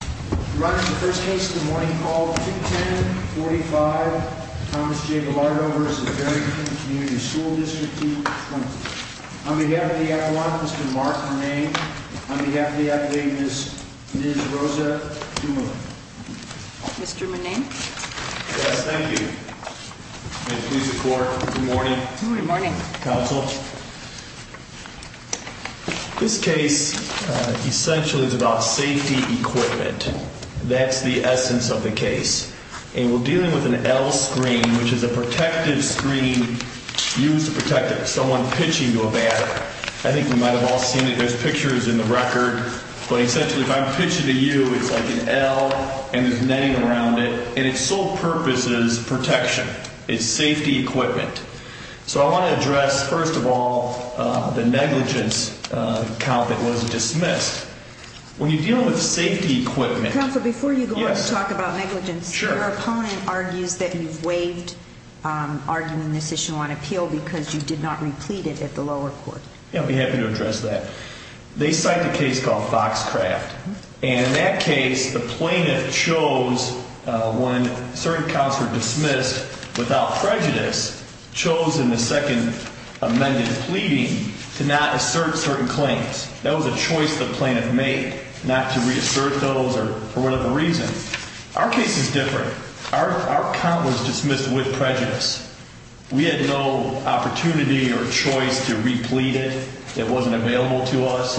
We're on to the first case of the morning called 210-45, Thomas J. Ballardo v. Barrington Community School District 220. On behalf of the F1, Mr. Mark Mone, on behalf of the F1, Ms. Rosa Dumoulin. Mr. Mone? Yes, thank you. May it please the Court, good morning. Good morning. Counsel. This case essentially is about safety equipment. That's the essence of the case. And we're dealing with an L screen, which is a protective screen used to protect someone pitching to a batter. I think you might have all seen it. There's pictures in the record. But essentially, if I'm pitching to you, it's like an L, and there's netting around it. And its sole purpose is protection. It's safety equipment. So I want to address, first of all, the negligence count that was dismissed. When you're dealing with safety equipment... Counsel, before you go on to talk about negligence, your opponent argues that you've waived arguing this issue on appeal because you did not replete it at the lower court. Yeah, I'd be happy to address that. They cite a case called Foxcraft. And in that case, the plaintiff chose, when certain counts were dismissed without prejudice, chose in the second amended pleading to not assert certain claims. That was a choice the plaintiff made, not to reassert those for whatever reason. Our case is different. Our count was dismissed with prejudice. We had no opportunity or choice to replete it. It wasn't available to us.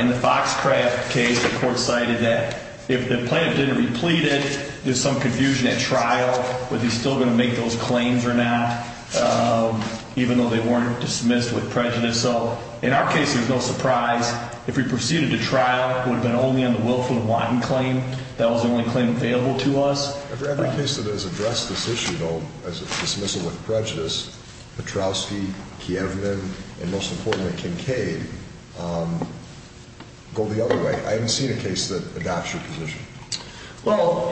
In the Foxcraft case, the court cited that if the plaintiff didn't replete it, there's some confusion at trial, whether he's still going to make those claims or not, even though they weren't dismissed with prejudice. So in our case, there's no surprise. If we proceeded to trial, it would have been only on the Wilfred Watton claim. That was the only claim available to us. For every case that has addressed this issue, though, as a dismissal with prejudice, Petrowski, Kieveman, and most importantly, Kincaid, go the other way. I haven't seen a case that adopts your position. Well,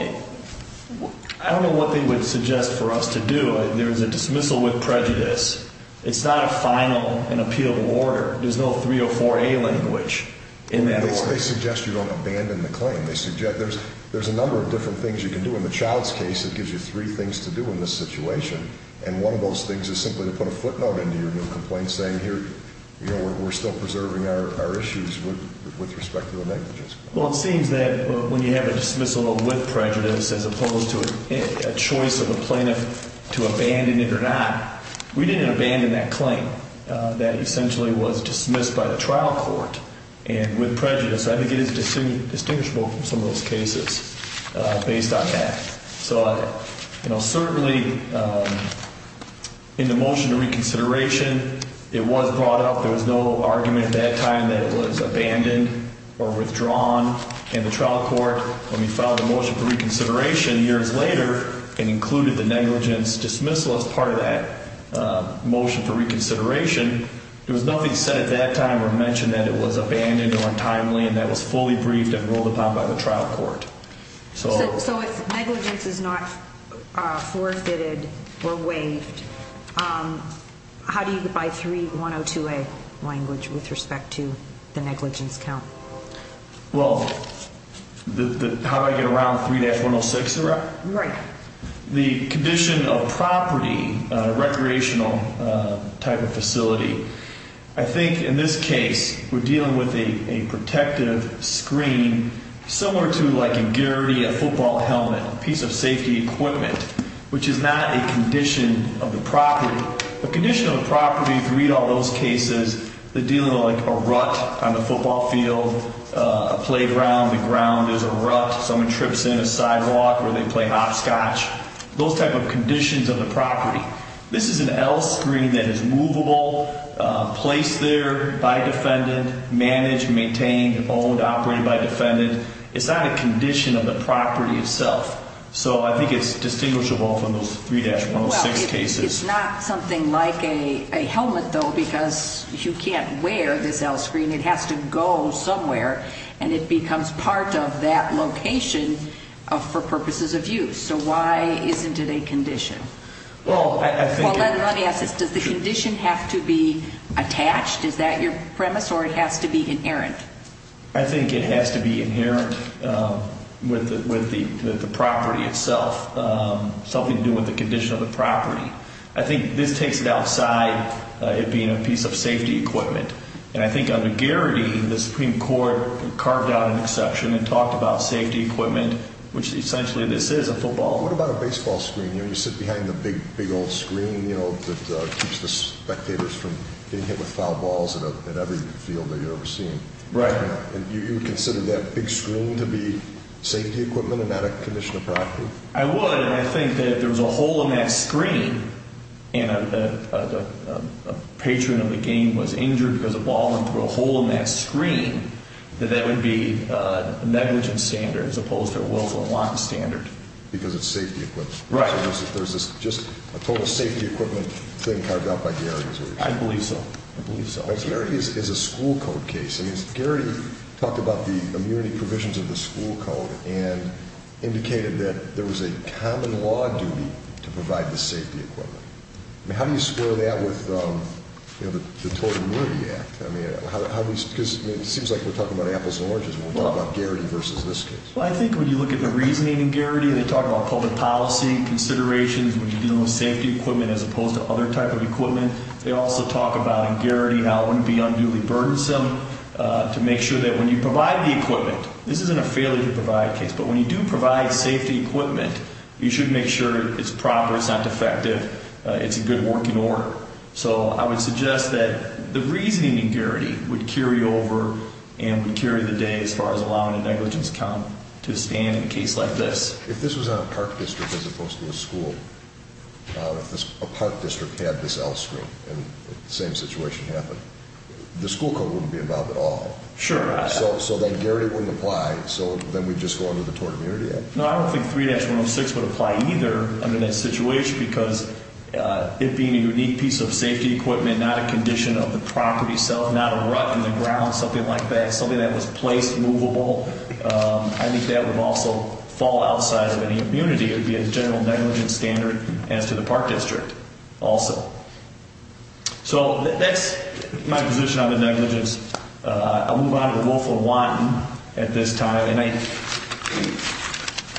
I don't know what they would suggest for us to do. There's a dismissal with prejudice. It's not a final and appealable order. There's no 304A language in that order. They suggest you don't abandon the claim. They suggest there's a number of different things you can do. In the Child's case, it gives you three things to do in this situation, and one of those things is simply to put a footnote into your new complaint saying, here, we're still preserving our issues with respect to the negligence claim. Well, it seems that when you have a dismissal with prejudice as opposed to a choice of a plaintiff to abandon it or not, we didn't abandon that claim that essentially was dismissed by the trial court. And with prejudice, I think it is distinguishable from some of those cases based on that. So, you know, certainly in the motion to reconsideration, it was brought up. There was no argument at that time that it was abandoned or withdrawn in the trial court. When we filed a motion for reconsideration years later and included the negligence dismissal as part of that motion for reconsideration, there was nothing said at that time or mentioned that it was abandoned or untimely and that it was fully briefed and ruled upon by the trial court. So if negligence is not forfeited or waived, how do you divide 3102A language with respect to the negligence count? Well, how do I get around 3-106? Right. The condition of property, recreational type of facility. I think in this case we're dealing with a protective screen similar to like a guarantee, a football helmet, piece of safety equipment, which is not a condition of the property. The condition of the property, if you read all those cases, they're dealing with like a rut on the football field, a playground, the ground is a rut, someone trips in a sidewalk where they play hopscotch, those type of conditions of the property. This is an L screen that is movable, placed there by defendant, managed, maintained, owned, operated by defendant. It's not a condition of the property itself. So I think it's distinguishable from those 3-106 cases. It's not something like a helmet, though, because you can't wear this L screen. It has to go somewhere, and it becomes part of that location for purposes of use. So why isn't it a condition? Well, I think... Well, let me ask this. Does the condition have to be attached? Is that your premise, or it has to be inherent? I think it has to be inherent with the property itself, something to do with the condition of the property. I think this takes it outside it being a piece of safety equipment. And I think under Garrity, the Supreme Court carved out an exception and talked about safety equipment, which essentially this is, a football. What about a baseball screen? You sit behind the big, big old screen that keeps the spectators from getting hit with foul balls in every field that you're overseeing. Right. And you would consider that big screen to be safety equipment and not a condition of property? I would, and I think that if there was a hole in that screen and a patron of the game was injured because a ball went through a hole in that screen, that that would be a negligent standard as opposed to a willful and wanton standard. Because it's safety equipment? Right. So there's just a total safety equipment thing carved out by Garrity, is what you're saying? I believe so. I believe so. Now, Garrity is a school code case. I mean, Garrity talked about the immunity provisions of the school code and indicated that there was a common law duty to provide the safety equipment. I mean, how do you square that with the Total Immunity Act? Because it seems like we're talking about apples and oranges when we're talking about Garrity versus this case. Well, I think when you look at the reasoning in Garrity, they talk about public policy considerations when you're dealing with safety equipment as opposed to other type of equipment. They also talk about, in Garrity, how it wouldn't be unduly burdensome to make sure that when you provide the equipment, this isn't a failure to provide case, but when you do provide safety equipment, you should make sure it's proper, it's not defective, it's in good working order. So I would suggest that the reasoning in Garrity would carry over and would carry the day as far as allowing a negligence count to stand in a case like this. If this was on a park district as opposed to a school, if a park district had this L screen and the same situation happened, the school code wouldn't be involved at all. Sure. So then Garrity wouldn't apply, so then we'd just go under the Total Immunity Act? No, I don't think 3-106 would apply either under that situation because it being a unique piece of safety equipment, not a condition of the property itself, not a rut in the ground, something like that, something that was placed, movable, I think that would also fall outside of any immunity. It would be a general negligence standard as to the park district also. So that's my position on the negligence. I'll move on to the Wolf of Wanton at this time.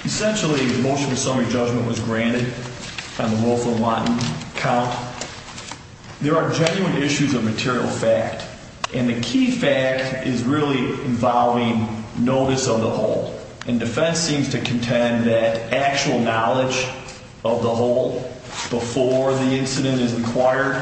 Essentially, the motion for summary judgment was granted on the Wolf of Wanton count. There are genuine issues of material fact, and the key fact is really involving notice of the whole. And defense seems to contend that actual knowledge of the whole before the incident is required,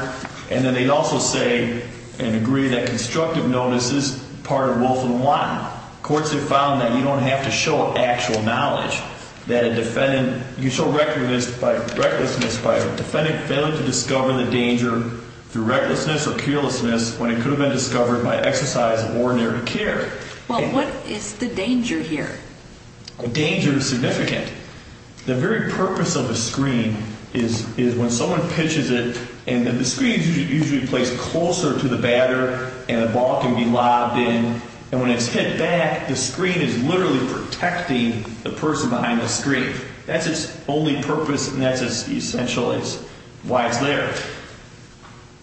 and then they also say and agree that constructive notice is part of Wolf of Wanton. Courts have found that you don't have to show actual knowledge, that a defendant, you show recklessness by a defendant failing to discover the danger through recklessness or carelessness when it could have been discovered by exercise of ordinary care. Well, what is the danger here? The danger is significant. The very purpose of a screen is when someone pitches it, and the screen is usually placed closer to the batter and the ball can be lobbed in, and when it's hit back, the screen is literally protecting the person behind the screen. That's its only purpose, and that's essentially why it's there.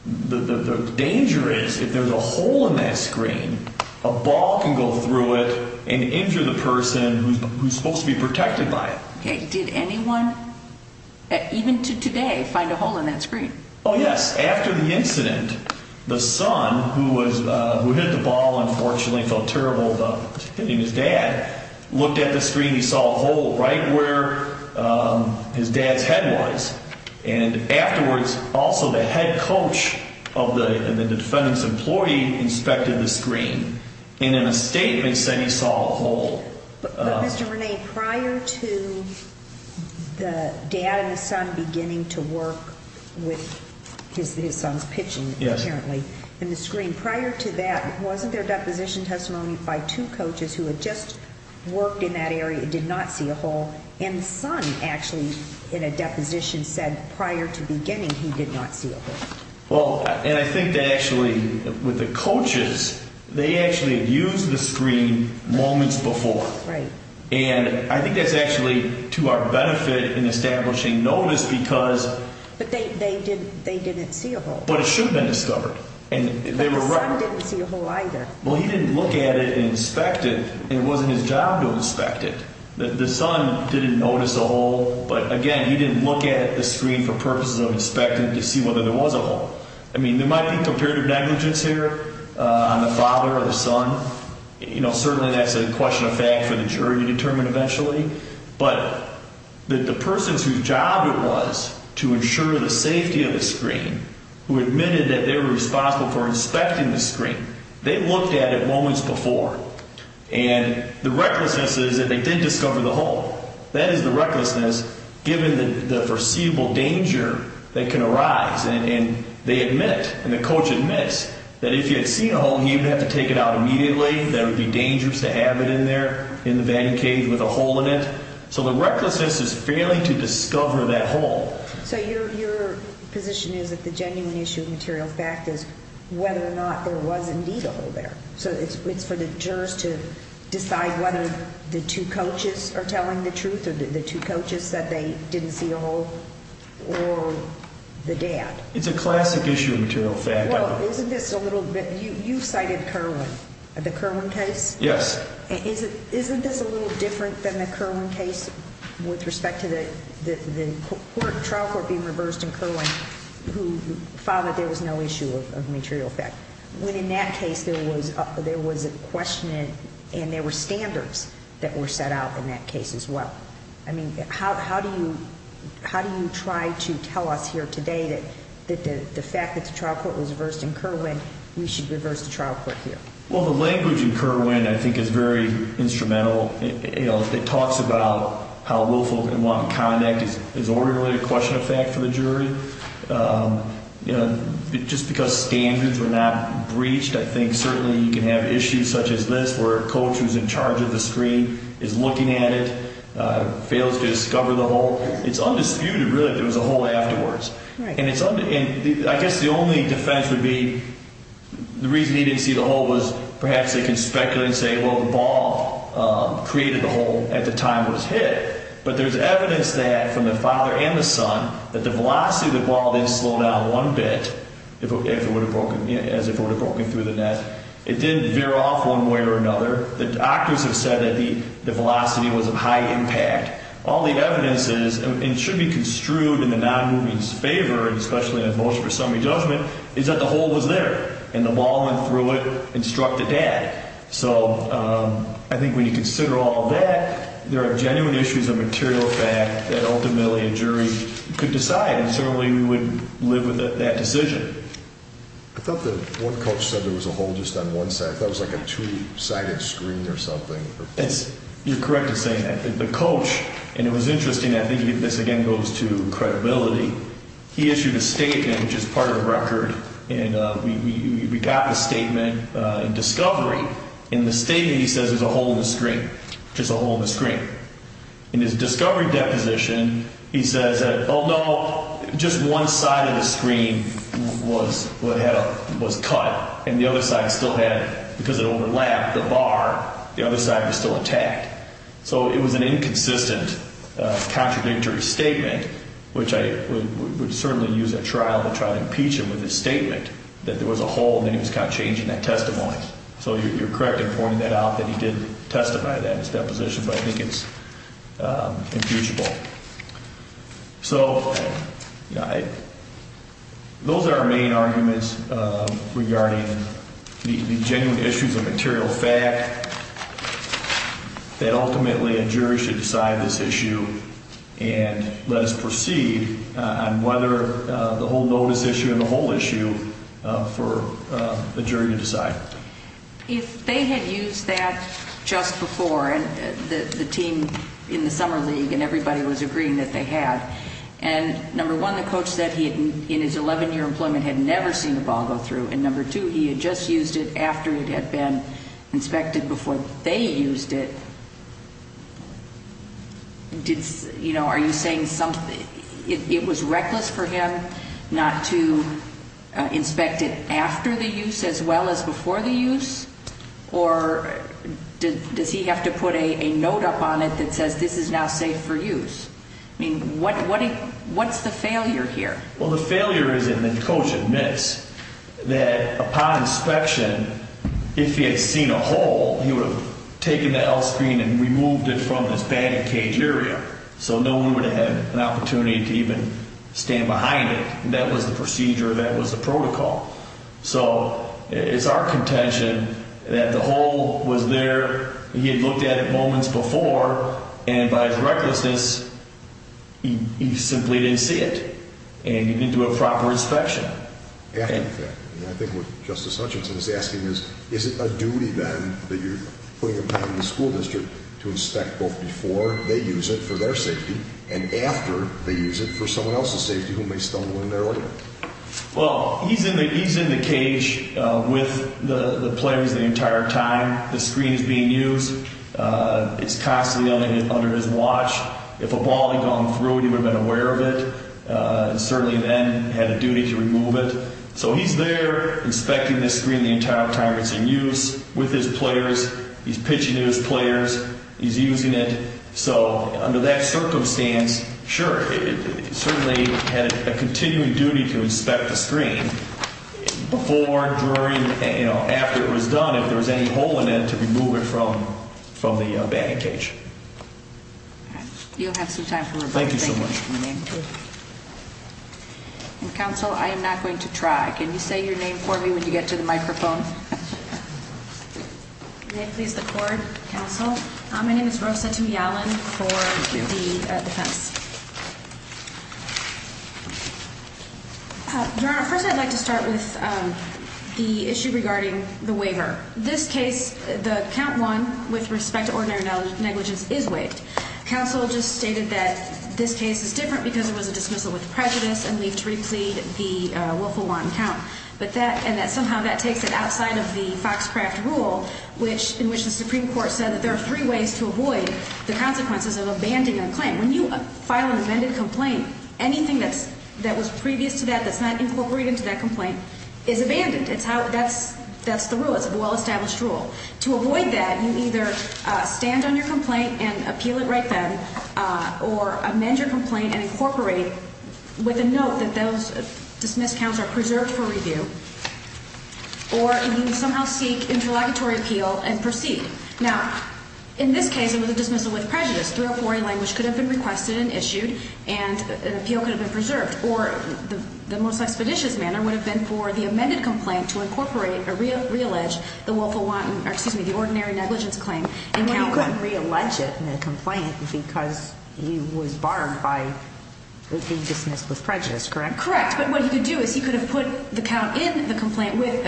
The danger is if there's a hole in that screen, a ball can go through it and injure the person who's supposed to be protected by it. Okay. Did anyone, even to today, find a hole in that screen? Oh, yes. After the incident, the son, who hit the ball, unfortunately, felt terrible about hitting his dad, looked at the screen, he saw a hole right where his dad's head was, and afterwards, also the head coach of the defendant's employee inspected the screen, and in a statement said he saw a hole. But, Mr. René, prior to the dad and the son beginning to work with his son's pitching, apparently, in the screen, prior to that, wasn't there deposition testimony by two coaches who had just worked in that area and did not see a hole? And the son, actually, in a deposition said prior to beginning he did not see a hole. Well, and I think they actually, with the coaches, they actually used the screen moments before. Right. And I think that's actually to our benefit in establishing notice because... But they didn't see a hole. But it should have been discovered. But the son didn't see a hole either. Well, he didn't look at it and inspect it. It wasn't his job to inspect it. The son didn't notice a hole, but, again, he didn't look at the screen for purposes of inspecting to see whether there was a hole. I mean, there might be comparative negligence here on the father or the son. You know, certainly that's a question of fact for the jury to determine eventually. But the persons whose job it was to ensure the safety of the screen, who admitted that they were responsible for inspecting the screen, they looked at it moments before. And the recklessness is that they did discover the hole. That is the recklessness given the foreseeable danger that can arise. And they admit, and the coach admits, that if you had seen a hole and you didn't have to take it out immediately, that it would be dangerous to have it in there in the vatting cave with a hole in it. So the recklessness is failing to discover that hole. So your position is that the genuine issue of material fact is whether or not there was indeed a hole there. So it's for the jurors to decide whether the two coaches are telling the truth or the two coaches said they didn't see a hole or the dad. It's a classic issue of material fact. You cited Kerwin, the Kerwin case? Yes. Isn't this a little different than the Kerwin case with respect to the trial court being reversed in Kerwin who found that there was no issue of material fact? When in that case there was a question and there were standards that were set out in that case as well. I mean, how do you try to tell us here today that the fact that the trial court was reversed in Kerwin, we should reverse the trial court here? Well, the language in Kerwin I think is very instrumental. It talks about how willful and wanton conduct is ordinarily a question of fact for the jury. Just because standards were not breached, I think certainly you can have issues such as this where a coach who's in charge of the screen is looking at it. Fails to discover the hole. It's undisputed really that there was a hole afterwards. I guess the only defense would be the reason he didn't see the hole was perhaps they can speculate and say, well, the ball created the hole at the time it was hit. But there's evidence that from the father and the son that the velocity of the ball didn't slow down one bit as if it would have broken through the net. It didn't veer off one way or another. The doctors have said that the velocity was of high impact. All the evidence is, and should be construed in the nonmoving's favor, especially in a motion for summary judgment, is that the hole was there. And the ball went through it and struck the dad. So I think when you consider all of that, there are genuine issues of material fact that ultimately a jury could decide. And certainly we would live with that decision. I thought that one coach said there was a hole just on one side. I thought it was like a two sided screen or something. You're correct in saying that. The coach, and it was interesting, I think this again goes to credibility. He issued a statement, which is part of the record, and we got the statement in discovery. In the statement he says there's a hole in the screen, just a hole in the screen. In his discovery deposition, he says that, oh, no, just one side of the screen was cut. And the other side still had, because it overlapped the bar, the other side was still attacked. So it was an inconsistent, contradictory statement, which I would certainly use at trial to try to impeach him with his statement that there was a hole. And then he was kind of changing that testimony. So you're correct in pointing that out that he did testify to that in his deposition, but I think it's impeachable. So those are our main arguments regarding the genuine issues of material fact that ultimately a jury should decide this issue. And let us proceed on whether the whole notice issue and the whole issue for a jury to decide. If they had used that just before, and the team in the summer league and everybody was agreeing that they had, and number one, the coach said he had, in his 11-year employment, had never seen a ball go through, and number two, he had just used it after it had been inspected before they used it, are you saying it was reckless for him not to inspect it after the use as well as before the use? Or does he have to put a note up on it that says this is now safe for use? I mean, what's the failure here? Well, the failure is that the coach admits that upon inspection, if he had seen a hole, he would have taken the L screen and removed it from this banded cage area, so no one would have had an opportunity to even stand behind it. That was the procedure. That was the protocol. So it's our contention that the hole was there, he had looked at it moments before, and by his recklessness, he simply didn't see it, and he didn't do a proper inspection. I think what Justice Hutchinson is asking is, is it a duty then that you're putting them down in the school district to inspect both before they use it for their safety and after they use it for someone else's safety who may stumble in there later? Well, he's in the cage with the players the entire time, the screen is being used, it's constantly under his watch. If a ball had gone through it, he would have been aware of it and certainly then had a duty to remove it. So he's there inspecting this screen the entire time it's in use with his players, he's pitching to his players, he's using it. So under that circumstance, sure, he certainly had a continuing duty to inspect the screen before, during, after it was done, if there was any hole in it, to remove it from the bagging cage. You'll have some time for rebuttal. Thank you so much. Counsel, I am not going to try. Can you say your name for me when you get to the microphone? May it please the Court, Counsel? My name is Rosa Tumialan for the defense. Your Honor, first I'd like to start with the issue regarding the waiver. This case, the count one, with respect to ordinary negligence, is waived. Counsel just stated that this case is different because it was a dismissal with prejudice and leave to replead the willful one count, and that somehow that takes it outside of the Foxcraft rule, in which the Supreme Court said that there are three ways to avoid the consequences of abandoning a claim. When you file an amended complaint, anything that was previous to that, that's not incorporated into that complaint, is abandoned. That's the rule. It's a well-established rule. To avoid that, you either stand on your complaint and appeal it right then, or amend your complaint and incorporate with a note that those dismissed counts are preserved for review, or you somehow seek interlocutory appeal and proceed. Now, in this case, it was a dismissal with prejudice. 304A language could have been requested and issued, and an appeal could have been preserved. Or the most expeditious manner would have been for the amended complaint to incorporate, or reallege, the willful one, or excuse me, the ordinary negligence claim in count one. But he couldn't reallege it in the complaint because he was barred by being dismissed with prejudice, correct? Correct, but what he could do is he could have put the count in the complaint with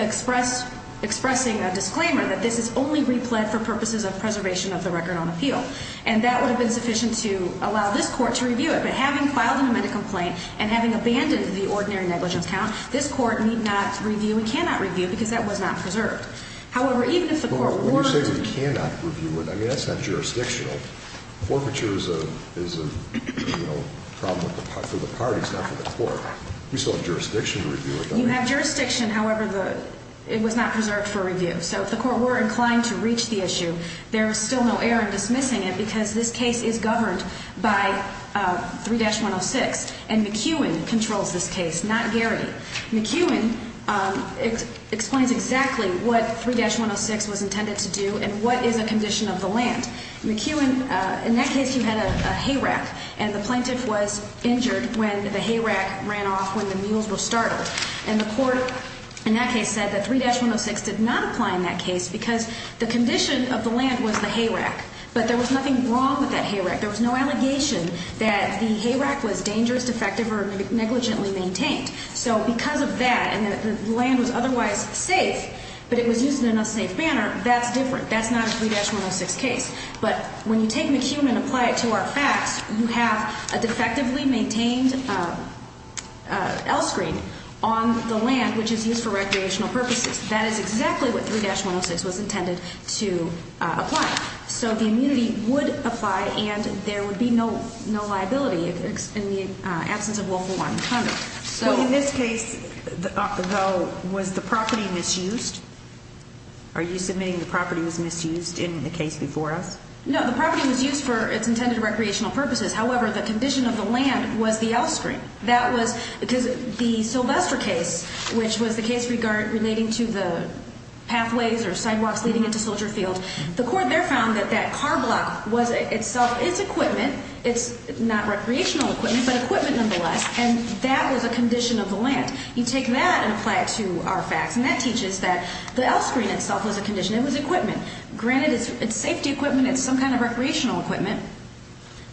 expressing a disclaimer that this is only replet for purposes of preservation of the record on appeal. And that would have been sufficient to allow this court to review it. But having filed an amended complaint and having abandoned the ordinary negligence count, this court need not review and cannot review because that was not preserved. However, even if the court were to review it. But when you say we cannot review it, I mean, that's not jurisdictional. Forfeiture is a problem for the parties, not for the court. We still have jurisdiction to review it, don't we? You have jurisdiction, however, it was not preserved for review. So if the court were inclined to reach the issue, there is still no error in dismissing it because this case is governed by 3-106 and McEwen controls this case, not Garrity. McEwen explains exactly what 3-106 was intended to do and what is a condition of the land. McEwen, in that case, you had a hay rack and the plaintiff was injured when the hay rack ran off, when the mules were started. And the court in that case said that 3-106 did not apply in that case because the condition of the land was the hay rack. But there was nothing wrong with that hay rack. There was no allegation that the hay rack was dangerous, defective, or negligently maintained. So because of that and the land was otherwise safe, but it was used in a safe manner, that's different. That's not a 3-106 case. But when you take McEwen and apply it to our facts, you have a defectively maintained L screen on the land, which is used for recreational purposes. That is exactly what 3-106 was intended to apply. So the immunity would apply and there would be no liability in the absence of lawful warrant. Well, in this case, though, was the property misused? Are you submitting the property was misused in the case before us? No, the property was used for its intended recreational purposes. However, the condition of the land was the L screen. That was because the Sylvester case, which was the case relating to the pathways or sidewalks leading into Soldier Field, the court there found that that car block was itself its equipment. It's not recreational equipment, but equipment nonetheless, and that was a condition of the land. You take that and apply it to our facts, and that teaches that the L screen itself was a condition. It was equipment. Granted, it's safety equipment, it's some kind of recreational equipment,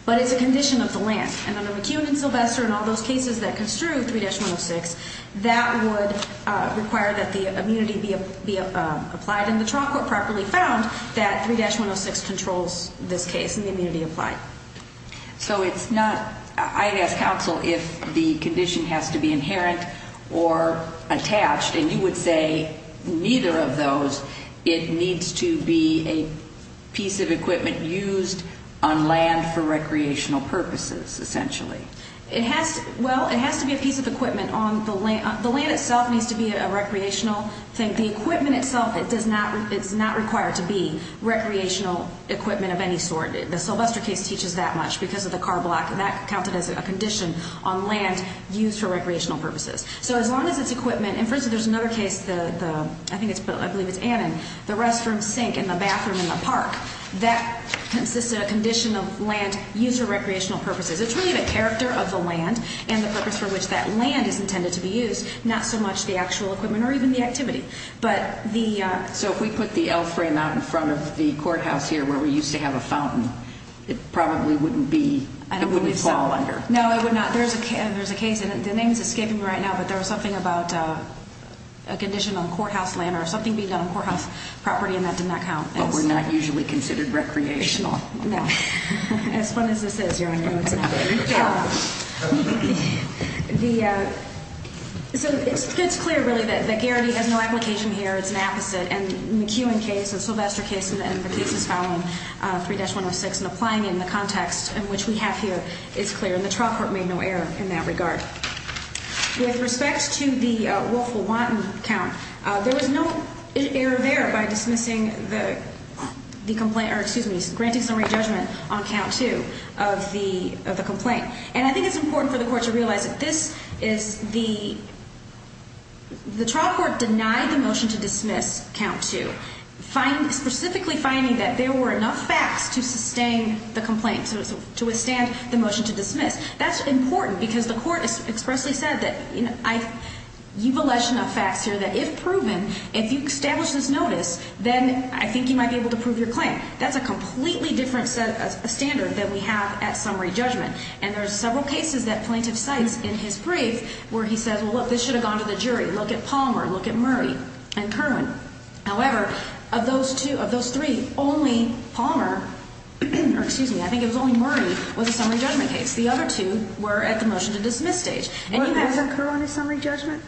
but it's a condition of the land. And under McEwen and Sylvester and all those cases that construe 3-106, that would require that the immunity be applied and the trial court properly found that 3-106 controls this case and the immunity applied. So it's not – I'd ask counsel if the condition has to be inherent or attached, and you would say neither of those. It needs to be a piece of equipment used on land for recreational purposes, essentially. It has – well, it has to be a piece of equipment on the land. The land itself needs to be a recreational thing. The equipment itself, it does not – it's not required to be recreational equipment of any sort. The Sylvester case teaches that much because of the car block, and that counted as a condition on land used for recreational purposes. So as long as it's equipment – and for instance, there's another case, I believe it's Annan, the restroom sink in the bathroom in the park, that consists of a condition of land used for recreational purposes. It's really the character of the land and the purpose for which that land is intended to be used, not so much the actual equipment or even the activity. So if we put the L frame out in front of the courthouse here where we used to have a fountain, it probably wouldn't be – it wouldn't fall under. No, it would not. There's a case – the name is escaping me right now, but there was something about a condition on courthouse land or something being done on courthouse property, and that did not count. But we're not usually considered recreational. No. As fun as this is, Your Honor, no, it's not. The – so it's clear, really, that Garrity has no application here. It's an apposite. And the McEwen case and Sylvester case and the cases following 3-106 and applying it in the context in which we have here, it's clear. And the trial court made no error in that regard. With respect to the Wolfville-Wanton count, there was no error there by dismissing the complaint – or excuse me, granting some re-judgment on count two of the complaint. And I think it's important for the court to realize that this is the – the trial court denied the motion to dismiss count two, specifically finding that there were enough facts to sustain the complaint, to withstand the motion to dismiss. That's important because the court expressly said that I – you've alleged enough facts here that if proven, if you establish this notice, then I think you might be able to prove your claim. That's a completely different standard than we have at summary judgment. And there are several cases that plaintiff cites in his brief where he says, well, look, this should have gone to the jury. Look at Palmer. Look at Murray and Kerwin. However, of those two – of those three, only Palmer – or excuse me, I think it was only Murray was a summary judgment case. The other two were at the motion to dismiss stage. And you have – Wasn't Kerwin a summary judgment?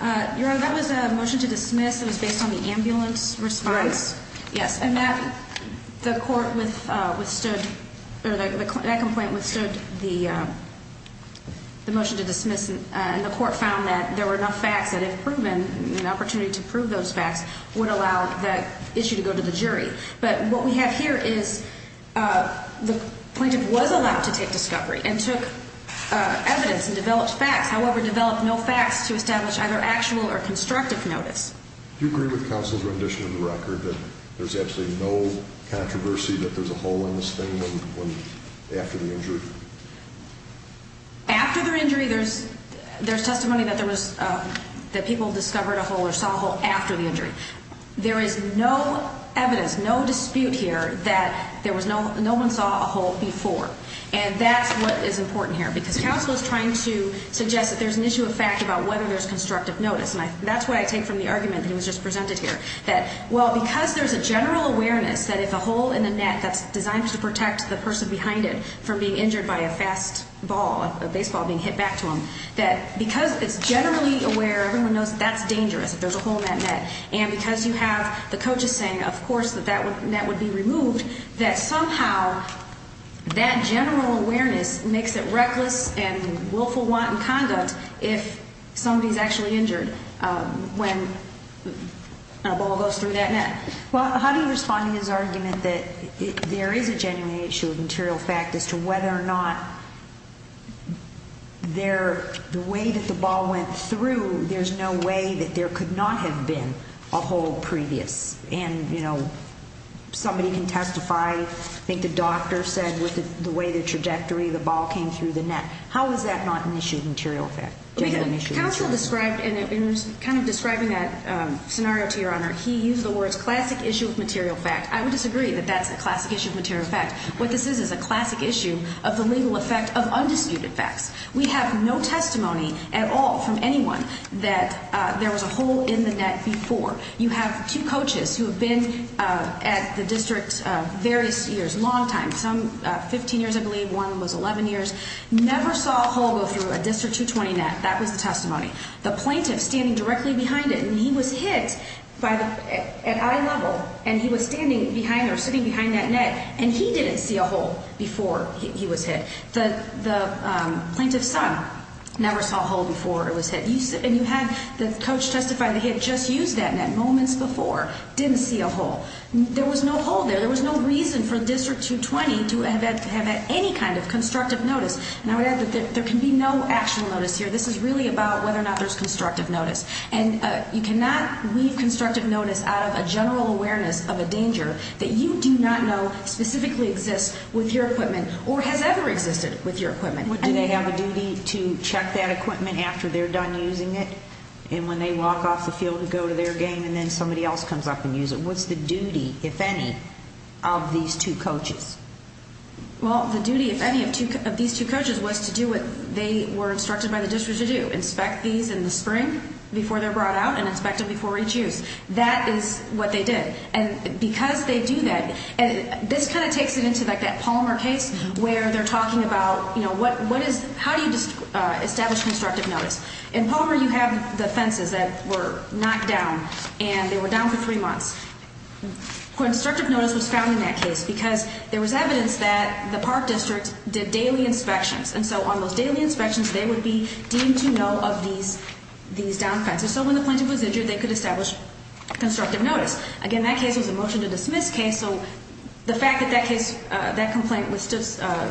Your Honor, that was a motion to dismiss. It was based on the ambulance response. Right. Yes, and that – the court withstood – that complaint withstood the motion to dismiss, and the court found that there were enough facts that if proven, an opportunity to prove those facts would allow that issue to go to the jury. But what we have here is the plaintiff was allowed to take discovery and took evidence and developed facts, however, developed no facts to establish either actual or constructive notice. Do you agree with the counsel's rendition of the record that there's absolutely no controversy that there's a hole in this thing after the injury? After the injury, there's testimony that there was – that people discovered a hole or saw a hole after the injury. There is no evidence, no dispute here that there was no – no one saw a hole before. And that's what is important here, because counsel is trying to suggest that there's an issue of fact about whether there's constructive notice. And that's what I take from the argument that was just presented here, that, well, because there's a general awareness that if a hole in the net that's designed to protect the person behind it from being injured by a fast ball, a baseball being hit back to them, that because it's generally aware, everyone knows that that's dangerous if there's a hole in that net. And because you have the coaches saying, of course, that that net would be removed, that somehow that general awareness makes it reckless and willful wanton conduct if somebody is actually injured when a ball goes through that net. Well, how do you respond to his argument that there is a genuine issue of material fact as to whether or not there – the way that the ball went through, there's no way that there could not have been a hole previous? And, you know, somebody can testify, I think the doctor said, with the way the trajectory of the ball came through the net. How is that not an issue of material fact? Okay. Counsel described – in kind of describing that scenario to Your Honor, he used the words classic issue of material fact. I would disagree that that's a classic issue of material fact. What this is is a classic issue of the legal effect of undisputed facts. We have no testimony at all from anyone that there was a hole in the net before. You have two coaches who have been at the district various years, long time, some 15 years I believe, one was 11 years, never saw a hole go through a District 220 net. That was the testimony. The plaintiff standing directly behind it, and he was hit at eye level, and he was standing behind or sitting behind that net, and he didn't see a hole before he was hit. The plaintiff's son never saw a hole before it was hit. And you had the coach testify that he had just used that net moments before, didn't see a hole. There was no hole there. There was no reason for District 220 to have had any kind of constructive notice. And I would add that there can be no actual notice here. This is really about whether or not there's constructive notice. And you cannot leave constructive notice out of a general awareness of a danger that you do not know specifically exists with your equipment or has ever existed with your equipment. Do they have a duty to check that equipment after they're done using it? And when they walk off the field to go to their game and then somebody else comes up and uses it? What's the duty, if any, of these two coaches? Well, the duty, if any, of these two coaches was to do what they were instructed by the district to do, inspect these in the spring before they're brought out and inspect them before each use. That is what they did. And because they do that, this kind of takes it into like that Palmer case where they're talking about, you know, how do you establish constructive notice? In Palmer, you have the fences that were knocked down, and they were down for three months. Constructive notice was found in that case because there was evidence that the park district did daily inspections. And so on those daily inspections, they would be deemed to know of these down fences. So when the plaintiff was injured, they could establish constructive notice. Again, that case was a motion-to-dismiss case, so the fact that that complaint was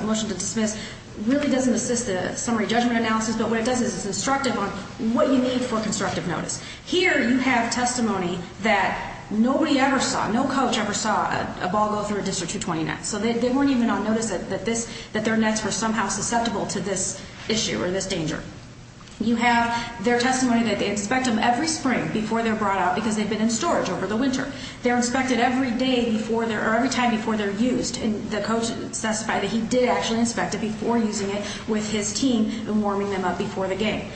motion-to-dismiss really doesn't assist the summary judgment analysis, but what it does is it's instructive on what you need for constructive notice. Here you have testimony that nobody ever saw, no coach ever saw a ball go through a District 220 net, so they weren't even on notice that their nets were somehow susceptible to this issue or this danger. You have their testimony that they inspect them every spring before they're brought out because they've been in storage over the winter. They're inspected every time before they're used, and the coach testified that he did actually inspect it before using it with his team and warming them up before the game.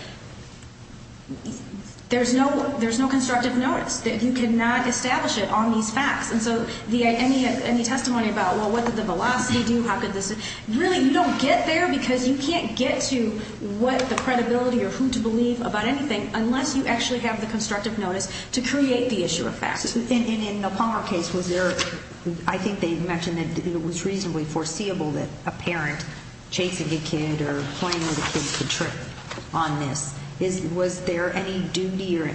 There's no constructive notice. You cannot establish it on these facts. And so any testimony about, well, what did the velocity do, how could this be? Really, you don't get there because you can't get to what the credibility or who to believe about anything unless you actually have the constructive notice to create the issue of fact. And in the Palmer case, was there, I think they mentioned that it was reasonably foreseeable that a parent chasing a kid or playing with a kid could trip on this. Was there any duty or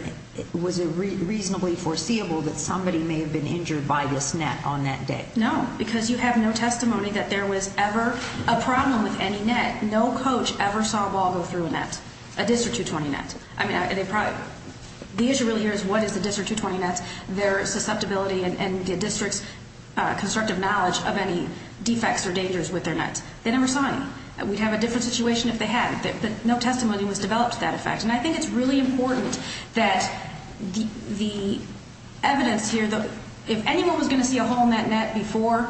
was it reasonably foreseeable that somebody may have been injured by this net on that day? No, because you have no testimony that there was ever a problem with any net. No coach ever saw a ball go through a net, a District 220 net. I mean, the issue really is what is the District 220 net, their susceptibility, and the District's constructive knowledge of any defects or dangers with their nets. They never saw any. We'd have a different situation if they had. No testimony was developed to that effect. And I think it's really important that the evidence here, if anyone was going to see a hole in that net before,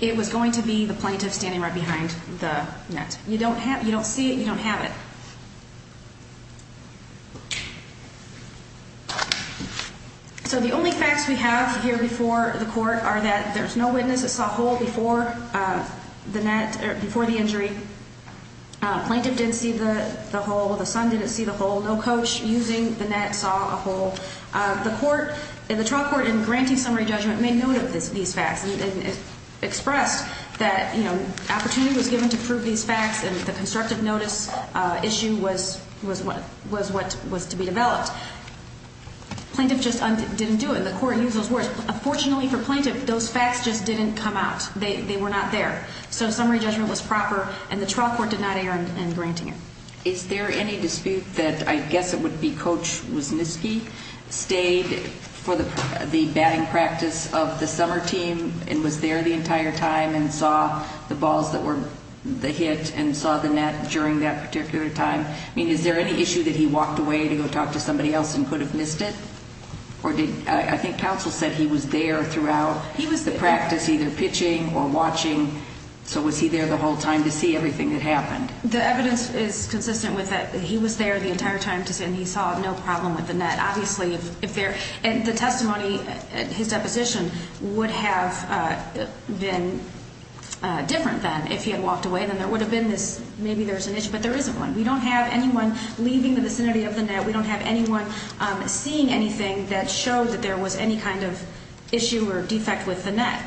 it was going to be the plaintiff standing right behind the net. You don't see it, you don't have it. So the only facts we have here before the court are that there's no witness that saw a hole before the net, before the injury. Plaintiff didn't see the hole. The son didn't see the hole. No coach using the net saw a hole. The court, the trial court in granting summary judgment made note of these facts and expressed that, you know, opportunity was given to prove these facts and the constructive notice issue was what was to be developed. Plaintiff just didn't do it, and the court used those words. Unfortunately for plaintiff, those facts just didn't come out. They were not there. So summary judgment was proper, and the trial court did not err in granting it. Is there any dispute that I guess it would be Coach Wisniewski stayed for the batting practice of the summer team and was there the entire time and saw the balls that were hit and saw the net during that particular time? I mean, is there any issue that he walked away to go talk to somebody else and could have missed it? I think counsel said he was there throughout. He was at practice either pitching or watching, so was he there the whole time to see everything that happened? The evidence is consistent with that. He was there the entire time and he saw no problem with the net. And the testimony, his deposition, would have been different then if he had walked away. Then there would have been this maybe there's an issue, but there isn't one. We don't have anyone leaving the vicinity of the net. We don't have anyone seeing anything that showed that there was any kind of issue or defect with the net.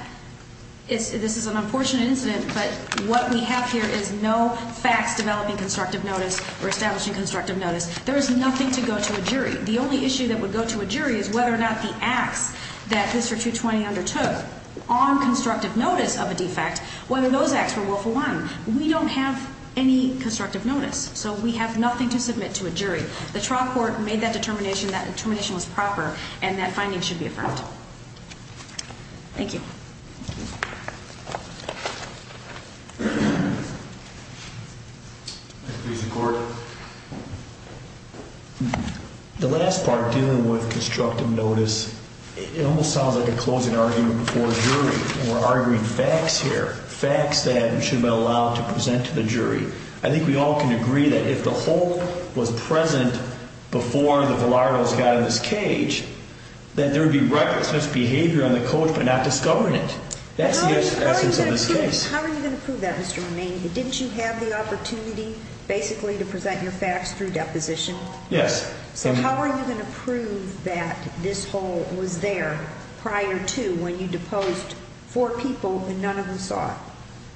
This is an unfortunate incident, but what we have here is no facts developing constructive notice or establishing constructive notice. There is nothing to go to a jury. The only issue that would go to a jury is whether or not the acts that Mr. 220 undertook on constructive notice of a defect, whether those acts were willful one. We don't have any constructive notice, so we have nothing to submit to a jury. The trial court made that determination. That determination was proper, and that finding should be affirmed. Thank you. The last part dealing with constructive notice, it almost sounds like a closing argument before a jury. We're arguing facts here, facts that should be allowed to present to the jury. I think we all can agree that if the hole was present before the Velardos got in this cage, that there would be reckless misbehavior on the coach by not discovering it. That's the essence of this case. How are you going to prove that, Mr. Romain? Didn't you have the opportunity basically to present your facts through deposition? Yes. So how are you going to prove that this hole was there prior to when you deposed four people and none of them saw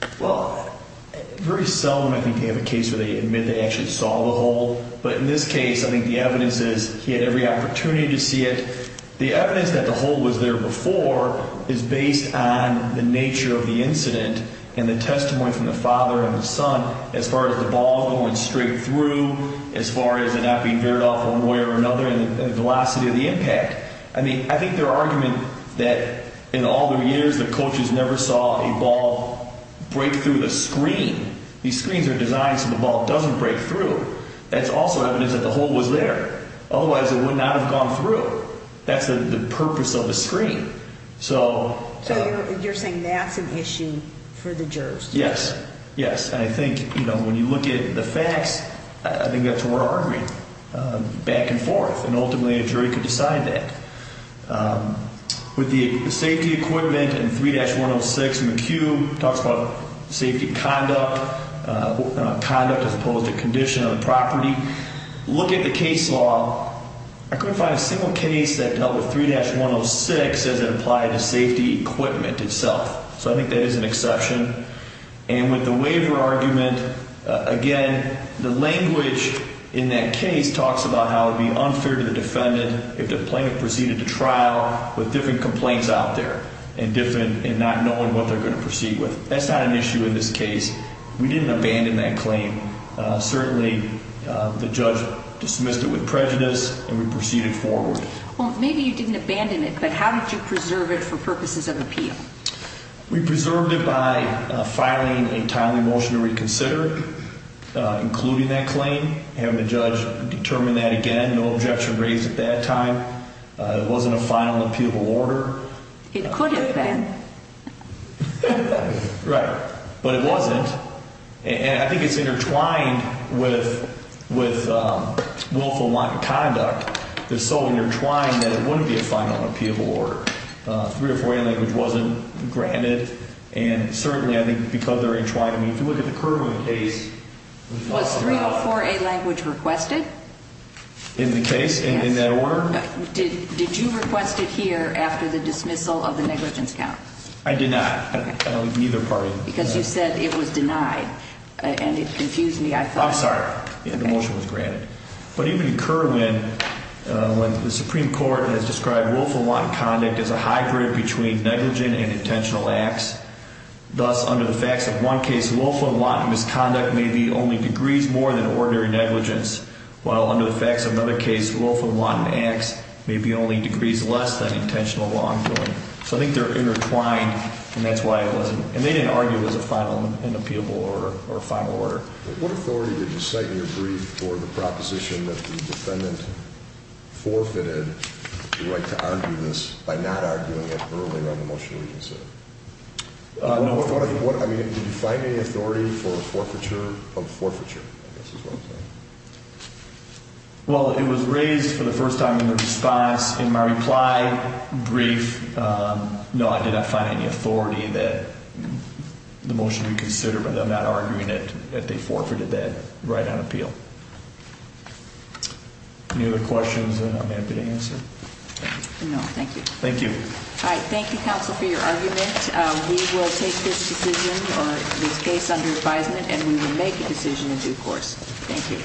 it? Well, very seldom I think they have a case where they admit they actually saw the hole, but in this case I think the evidence is he had every opportunity to see it. The evidence that the hole was there before is based on the nature of the incident and the testimony from the father and the son as far as the ball going straight through, as far as it not being veered off one way or another, and the velocity of the impact. I think their argument that in all their years the coaches never saw a ball break through the screen. These screens are designed so the ball doesn't break through. That's also evidence that the hole was there. Otherwise it would not have gone through. That's the purpose of the screen. So you're saying that's an issue for the jurors? Yes. Yes. And I think when you look at the facts, I think that's where we're arguing back and forth, and ultimately a jury could decide that. With the safety equipment in 3-106 in the cube, it talks about safety conduct, as opposed to condition of the property. Look at the case law. I couldn't find a single case that dealt with 3-106 as it applied to safety equipment itself. So I think that is an exception. And with the waiver argument, again, the language in that case talks about how it would be unfair to the defendant if the plaintiff proceeded to trial with different complaints out there and not knowing what they're going to proceed with. That's not an issue in this case. We didn't abandon that claim. Certainly the judge dismissed it with prejudice, and we proceeded forward. Well, maybe you didn't abandon it, but how did you preserve it for purposes of appeal? We preserved it by filing a timely motion to reconsider it, including that claim, having the judge determine that again, no objection raised at that time. It wasn't a final appealable order. It could have been. Right. But it wasn't. And I think it's intertwined with willful conduct. It's so intertwined that it wouldn't be a final appealable order. 304A language wasn't granted. And certainly I think because they're intertwined, I mean, if you look at the Kerwin case. Was 304A language requested? In the case, in that order? Yes. Did you request it here after the dismissal of the negligence count? I did not. Neither party. Because you said it was denied, and it confused me. I'm sorry. The motion was granted. But even in Kerwin, when the Supreme Court has described willful and wanton conduct as a hybrid between negligent and intentional acts, thus under the facts of one case, willful and wanton misconduct may be only degrees more than ordinary negligence, while under the facts of another case, willful and wanton acts may be only degrees less than intentional wrongdoing. So I think they're intertwined, and that's why it wasn't. And they didn't argue it was a final and appealable order or a final order. What authority did you cite in your brief for the proposition that the defendant forfeited the right to argue this by not arguing it earlier on the motion you just said? No authority. I mean, did you find any authority for a forfeiture of forfeiture? Well, it was raised for the first time in response. In my reply brief, no, I did not find any authority that the motion be considered without arguing it that they forfeited that right on appeal. Any other questions that I'm happy to answer? No. Thank you. Thank you. All right. Thank you, counsel, for your argument. We will take this decision or this case under advisement, and we will make a decision in due course. Thank you.